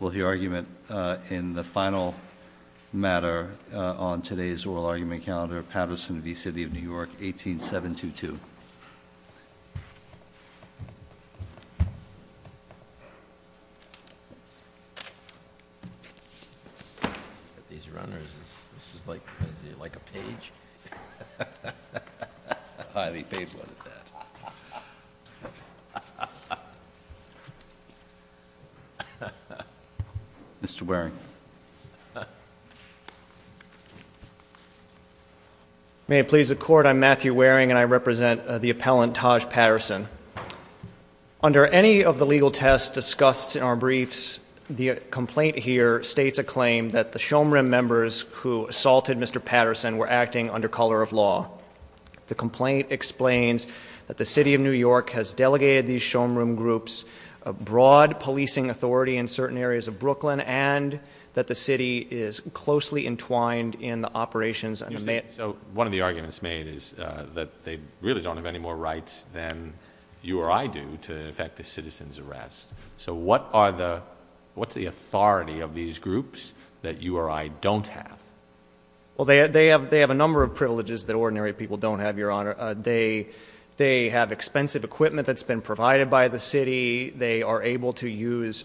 Will the argument in the final matter on today's oral argument calendar Patterson v. City of New York 18722 Mr. Waring May it please the court I'm Matthew Waring and I represent the appellant Taj Patterson Under any of the legal tests discussed in our briefs the complaint here states a claim that the showroom members who? Assaulted mr. Patterson were acting under color of law The complaint explains that the city of New York has delegated these showroom groups a broad Policing authority in certain areas of Brooklyn and that the city is closely entwined in the operations I mean so one of the arguments made is that they really don't have any more rights than You or I do to in fact the citizens arrest So what are the what's the authority of these groups that you or I don't have? Well, they have they have a number of privileges that ordinary people don't have your honor They they have expensive equipment that's been provided by the city. They are able to use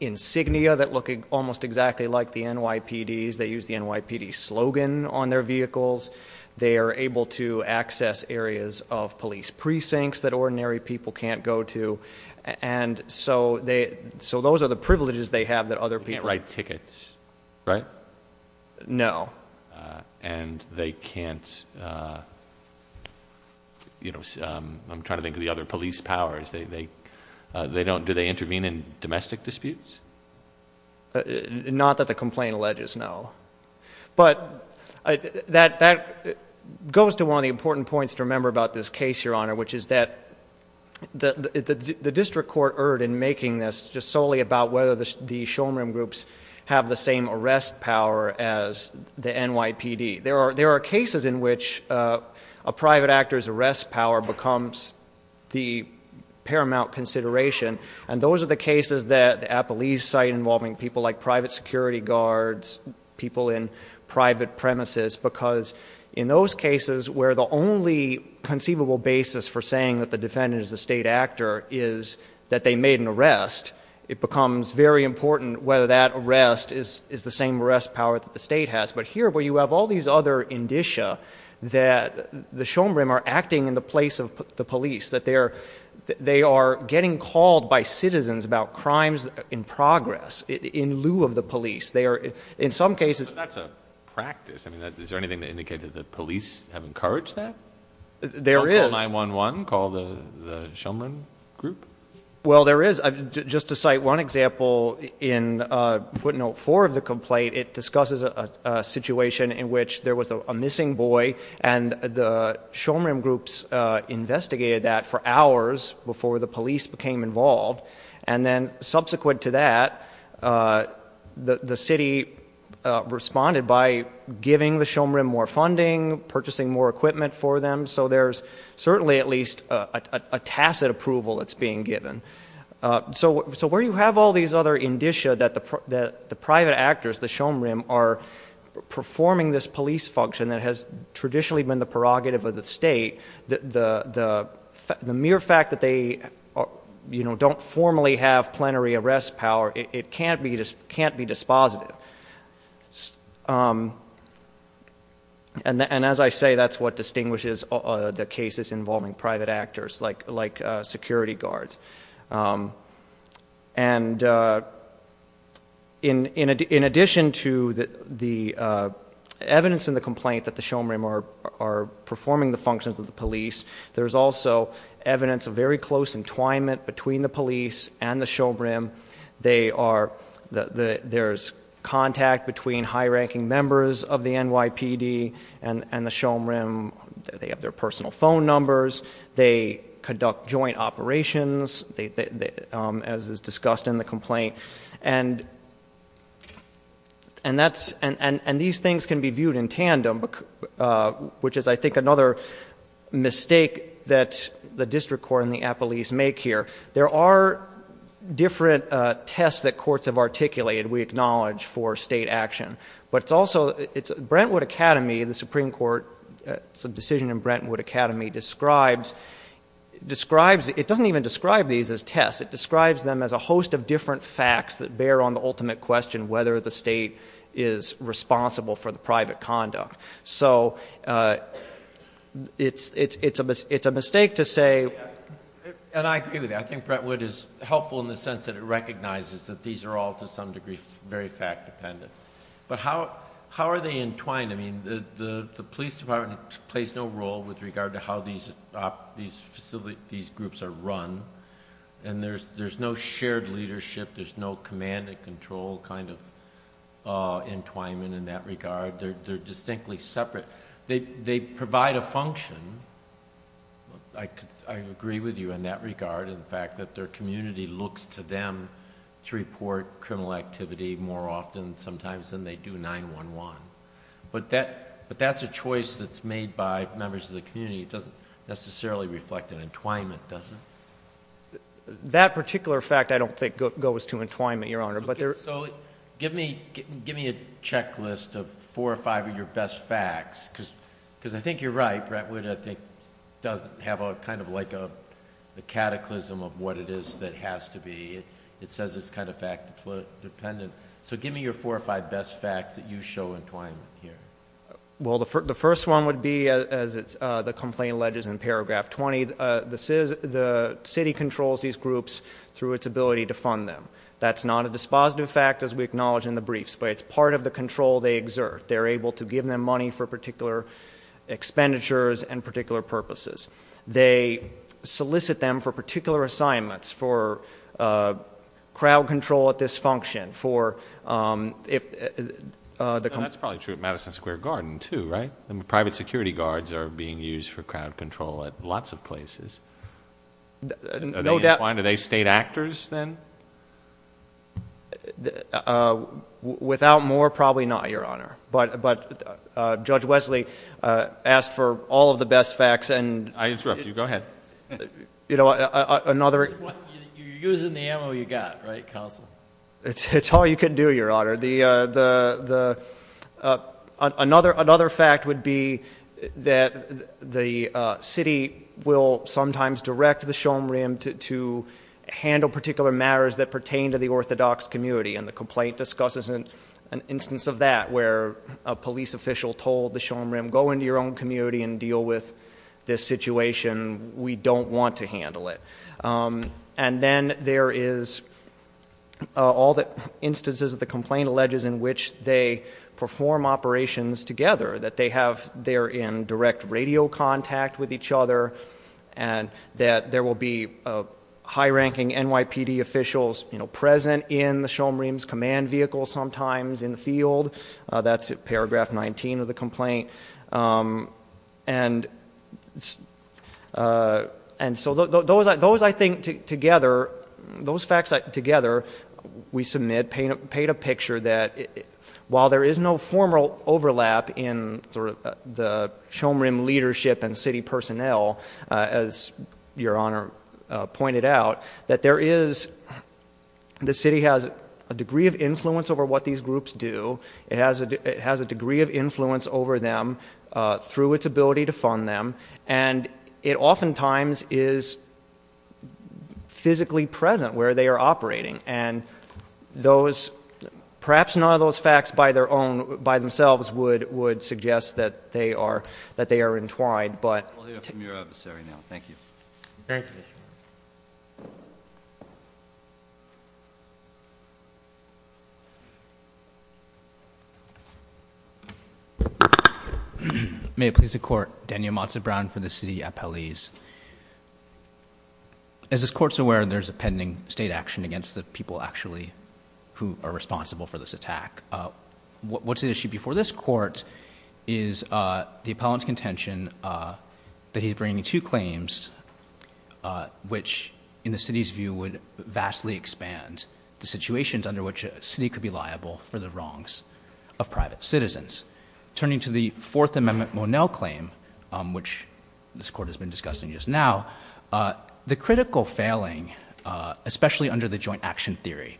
Insignia that look almost exactly like the NYPD's they use the NYPD slogan on their vehicles They are able to access areas of police precincts that ordinary people can't go to And so they so those are the privileges they have that other people write tickets, right? No and they can't You know, I'm trying to think of the other police powers they they they don't do they intervene in domestic disputes Not that the complaint alleges no but that that Goes to one of the important points to remember about this case your honor, which is that? the the district court erred in making this just solely about whether the showroom groups have the same arrest power as The NYPD there are there are cases in which a private actor's arrest power becomes the Paramount consideration and those are the cases that the Appalese site involving people like private security guards people in private premises because in those cases where the only Conceivable basis for saying that the defendant is a state actor is that they made an arrest It becomes very important whether that arrest is is the same arrest power that the state has but here where you have all these other Indicia that the showroom are acting in the place of the police that they're They are getting called by citizens about crimes in progress in lieu of the police They are in some cases. That's a practice. I mean that is there anything to indicate that the police have encouraged that? There is 9-1-1 call the showman group. Well, there is just to cite one example in footnote 4 of the complaint it discusses a Situation in which there was a missing boy and the showroom groups Investigated that for hours before the police became involved and then subsequent to that the the city Responded by giving the showroom more funding purchasing more equipment for them. So there's certainly at least a Tacit approval that's being given so so where you have all these other Indicia that the that the private actors the showroom are Performing this police function that has traditionally been the prerogative of the state that the the the mere fact that they You know don't formally have plenary arrest power. It can't be just can't be dispositive And as I say, that's what distinguishes the cases involving private actors like like security guards and In in addition to that the evidence in the complaint that the showroom are Performing the functions of the police. There's also Evidence of very close entwinement between the police and the showroom They are the there's contact between high-ranking members of the NYPD and and the showroom They have their personal phone numbers. They conduct joint operations They as is discussed in the complaint and and That's and and and these things can be viewed in tandem Which is I think another Mistake that the district court in the Apple East make here there are Different tests that courts have articulated we acknowledge for state action But it's also it's Brentwood Academy the Supreme Court some decision in Brentwood Academy describes Describes it doesn't even describe these as tests it describes them as a host of different facts that bear on the ultimate question whether the state is responsible for the private conduct, so It's it's it's a it's a mistake to say And I agree with that I think Brentwood is helpful in the sense that it recognizes that these are all to some degree very fact dependent But how how are they entwined? The police department plays no role with regard to how these These facilities groups are run and there's there's no shared leadership. There's no command and control kind of Entwinement in that regard. They're distinctly separate. They provide a function I Agree with you in that regard in fact that their community looks to them to report criminal activity more often sometimes Than they do 9-1-1 But that but that's a choice that's made by members of the community doesn't necessarily reflect an entwinement doesn't That particular fact. I don't think goes to entwine me your honor But there so give me give me a checklist of four or five of your best facts because because I think you're right Brett would I think doesn't have a kind of like a Cataclysm of what it is that has to be it says it's kind of fact Dependent so give me your four or five best facts that you show entwine here Well, the first one would be as it's the complaint ledges in paragraph 20 This is the city controls these groups through its ability to fund them That's not a dispositive fact as we acknowledge in the briefs, but it's part of the control they exert They're able to give them money for particular expenditures and particular purposes they solicit them for particular assignments for Crowd control at this function for if The comments probably true at Madison Square Garden to write and private security guards are being used for crowd control at lots of places No, that's why do they state actors then? Without more probably not your honor, but but judge Wesley asked for all of the best facts and I interrupt you go ahead You know another Using the ammo you got right council, it's it's all you can do your honor the the the another another fact would be that the city will sometimes direct the showroom to handle particular matters that pertain to the Orthodox community and the complaint discusses in an Instance of that where a police official told the showroom go into your own community and deal with this situation We don't want to handle it and then there is all the instances of the complaint alleges in which they perform operations together that they have there in direct radio contact with each other and that there will be a High-ranking NYPD officials, you know present in the showroom's command vehicle sometimes in the field That's a paragraph 19 of the complaint and And So those I those I think together those facts like together we submit paint a paint a picture that while there is no formal overlap in sort of the showroom leadership and city personnel as your honor pointed out that there is The city has a degree of influence over what these groups do it has it has a degree of influence over them Through its ability to fund them and it oftentimes is Physically present where they are operating and those perhaps none of those facts by their own by themselves would would suggest that they are that they are entwined but May it please the court Daniel Mazza Brown for the city appellees As this courts aware there's a pending state action against the people actually who are responsible for this attack What's the issue before this court is? the appellant's contention That he's bringing two claims which in the city's view would vastly expand the situations under which a city could be liable for the wrongs of Private-citizens turning to the Fourth Amendment Monell claim, which this court has been discussing just now the critical failing especially under the joint action theory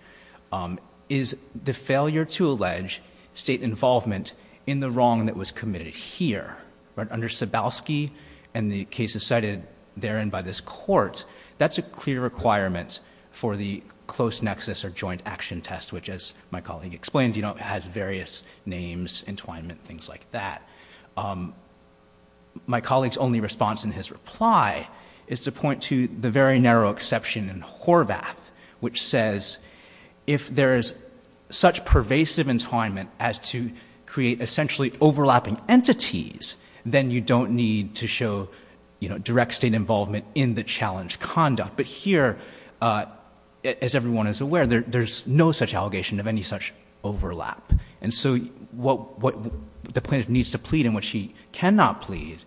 Is the failure to allege state involvement in the wrong that was committed here? But under Sebowski and the cases cited therein by this court That's a clear requirement for the close nexus or joint action test Which as my colleague explained, you know has various names entwinement things like that My colleagues only response in his reply is to point to the very narrow exception in Horvath which says if there is such pervasive entwinement as to create essentially Overlapping entities then you don't need to show, you know direct state involvement in the challenge conduct, but here As everyone is aware there's no such allegation of any such overlap And so what the plaintiff needs to plead and what she cannot plead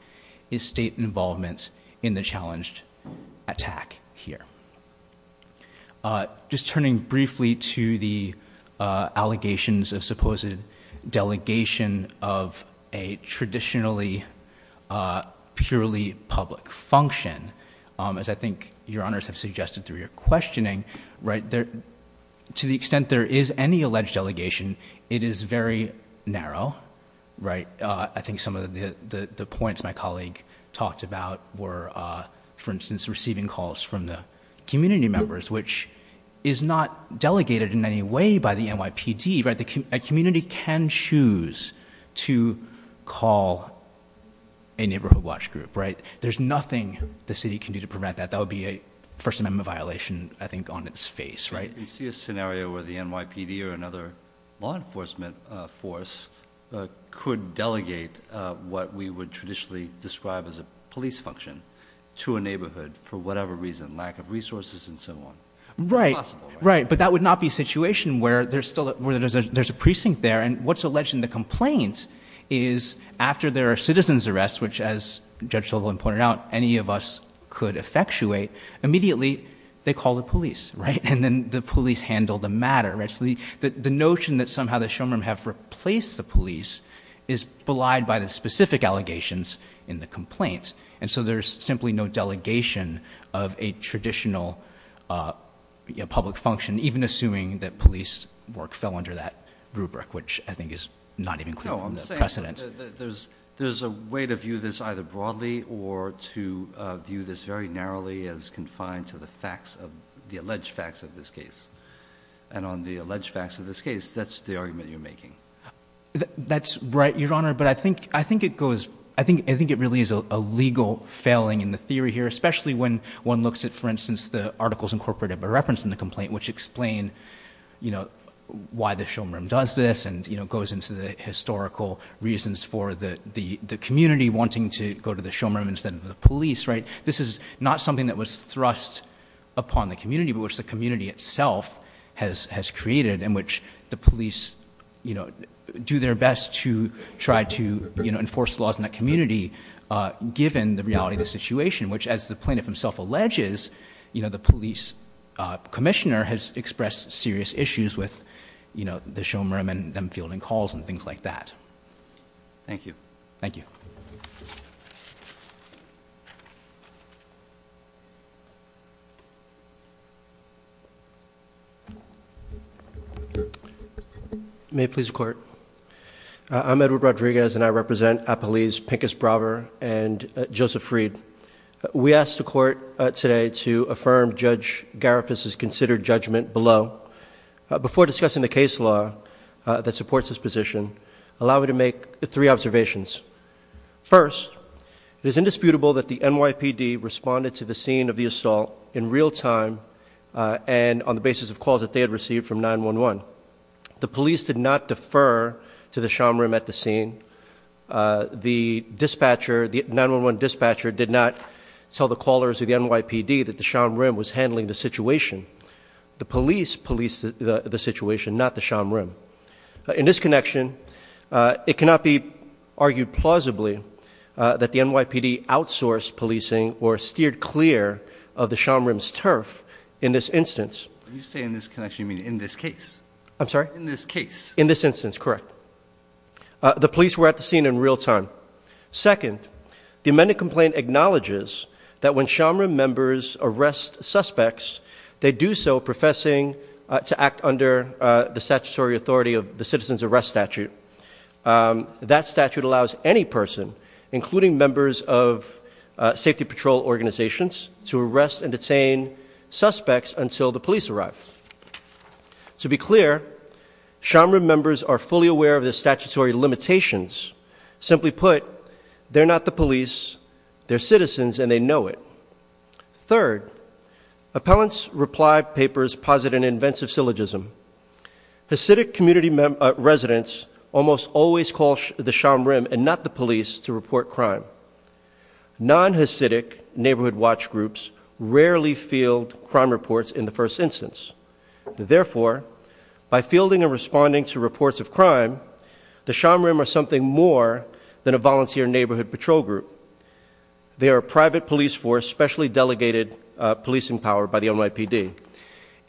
is state involvement in the challenged attack here Just turning briefly to the allegations of supposed delegation of a traditionally Purely public function as I think your honors have suggested through your questioning, right there To the extent there is any alleged delegation. It is very narrow right, I think some of the the points my colleague talked about were for instance receiving calls from the community members, which is not Delegated in any way by the NYPD right the community can choose to call A neighborhood watch group, right? There's nothing the city can do to prevent that that would be a First Amendment violation I think on its face right you see a scenario where the NYPD or another law enforcement force Could delegate what we would traditionally describe as a police function To a neighborhood for whatever reason lack of resources and so on right, right But that would not be situation where there's still a where there's a there's a precinct there and what's alleged in the complaints is After there are citizens arrests, which as judge Sullivan pointed out any of us could effectuate Immediately, they call the police right and then the police handle the matter that's the the notion that somehow the showroom have replaced the police is Belied by the specific allegations in the complaint. And so there's simply no delegation of a traditional Public function even assuming that police work fell under that rubric which I think is not even There's there's a way to view this either broadly or to View this very narrowly as confined to the facts of the alleged facts of this case And on the alleged facts of this case, that's the argument you're making That's right your honor. But I think I think it goes I think I think it really is a legal failing in the theory here Especially when one looks at for instance, the articles incorporated by reference in the complaint which explain, you know Why the showroom does this and you know goes into the historical Reasons for the the the community wanting to go to the showroom instead of the police, right? This is not something that was thrust Upon the community, but which the community itself has has created in which the police, you know Do their best to try to you know, enforce laws in that community Given the reality of the situation which as the plaintiff himself alleges, you know, the police Commissioner has expressed serious issues with you know, the showroom and them fielding calls and things like that Thank you. Thank you May please court I'm Edward Rodriguez, and I represent a police pinkest braver and Joseph Reed we asked the court today to affirm judge Gariffas is considered judgment below Before discussing the case law that supports this position allow me to make three observations First it is indisputable that the NYPD responded to the scene of the assault in real time And on the basis of calls that they had received from 9-1-1 The police did not defer to the showroom at the scene The dispatcher the 9-1-1 dispatcher did not tell the callers of the NYPD that the showroom was handling the situation The police policed the situation not the showroom in this connection It cannot be argued plausibly That the NYPD outsourced policing or steered clear of the showroom's turf in this instance You say in this connection you mean in this case? I'm sorry in this case in this instance, correct The police were at the scene in real time Second the amended complaint acknowledges that when shamra members arrest suspects They do so professing to act under the statutory authority of the citizens arrest statute that statute allows any person including members of safety patrol organizations to arrest and detain suspects until the police arrives to be clear Shamra members are fully aware of the statutory limitations Simply put they're not the police They're citizens and they know it third appellants reply papers posit an inventive syllogism Hasidic community residents almost always call the sham rim and not the police to report crime Non-hasidic neighborhood watch groups rarely field crime reports in the first instance Therefore by fielding and responding to reports of crime the sham rim are something more than a volunteer neighborhood patrol group They are a private police force specially delegated policing power by the NYPD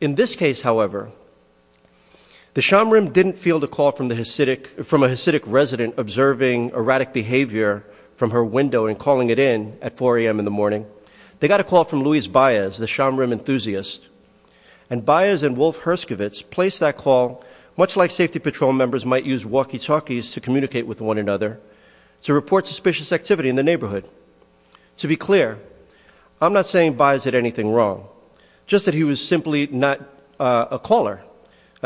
in this case, however The sham rim didn't feel the call from the Hasidic from a Hasidic resident Observing erratic behavior from her window and calling it in at 4 a.m. In the morning They got a call from Luis Baez the sham rim enthusiast and Baez and Wolf Herskovitz placed that call much like safety patrol members might use walkie-talkies to communicate with one another To report suspicious activity in the neighborhood To be clear. I'm not saying buys it anything wrong. Just that he was simply not a caller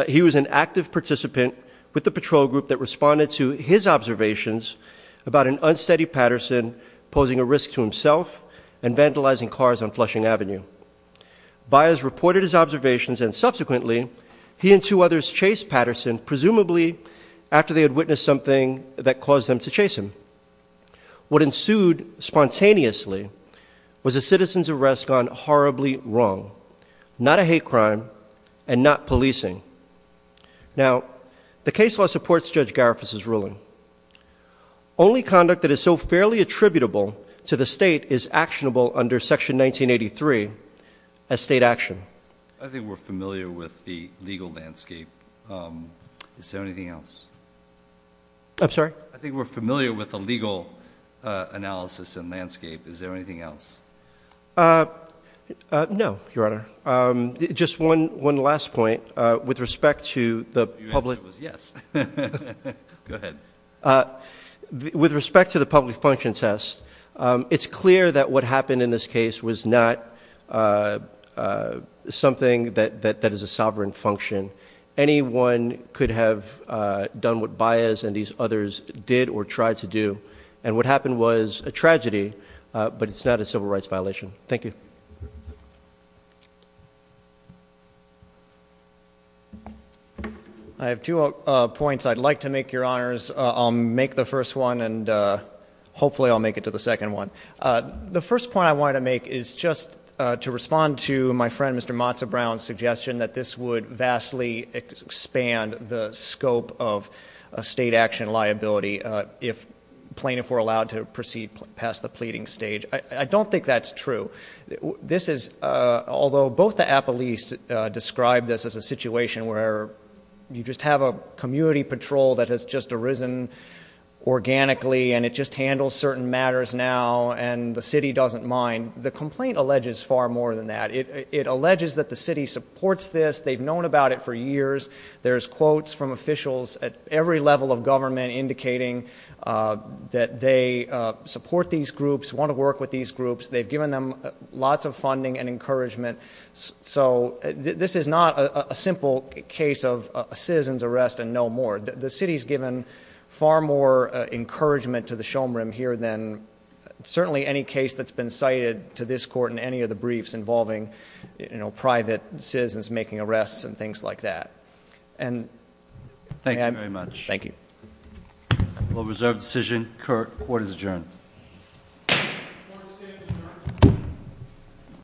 He was an active participant with the patrol group that responded to his observations about an unsteady Patterson Posing a risk to himself and vandalizing cars on Flushing Avenue Buyers reported his observations and subsequently he and two others chased Patterson presumably After they had witnessed something that caused them to chase him What ensued? Spontaneously was a citizen's arrest gone horribly wrong. Not a hate crime and not policing Only conduct that is so fairly attributable to the state is actionable under section 1983 a State action. I think we're familiar with the legal landscape Is there anything else? I'm sorry. I think we're familiar with the legal Analysis and landscape. Is there anything else? No, your honor just one one last point with respect to the public With respect to the public function test, it's clear that what happened in this case was not Something that that is a sovereign function anyone could have Done what bias and these others did or tried to do and what happened was a tragedy But it's not a civil rights violation. Thank you. I Make the first one and Hopefully, I'll make it to the second one. The first point I want to make is just to respond to my friend Mr. Matzah Brown's suggestion that this would vastly expand the scope of a state action liability if Plaintiff were allowed to proceed past the pleading stage. I don't think that's true this is although both the Apple East described this as a situation where You just have a community patrol that has just arisen Organically and it just handles certain matters now and the city doesn't mind the complaint alleges far more than that It it alleges that the city supports this they've known about it for years There's quotes from officials at every level of government indicating that they Support these groups want to work with these groups. They've given them lots of funding and encouragement So this is not a simple case of a citizen's arrest and no more the city's given far more encouragement to the showroom here than Certainly any case that's been cited to this court in any of the briefs involving, you know private citizens making arrests and things like that and Thank you very much. Thank you Well reserved decision court is adjourned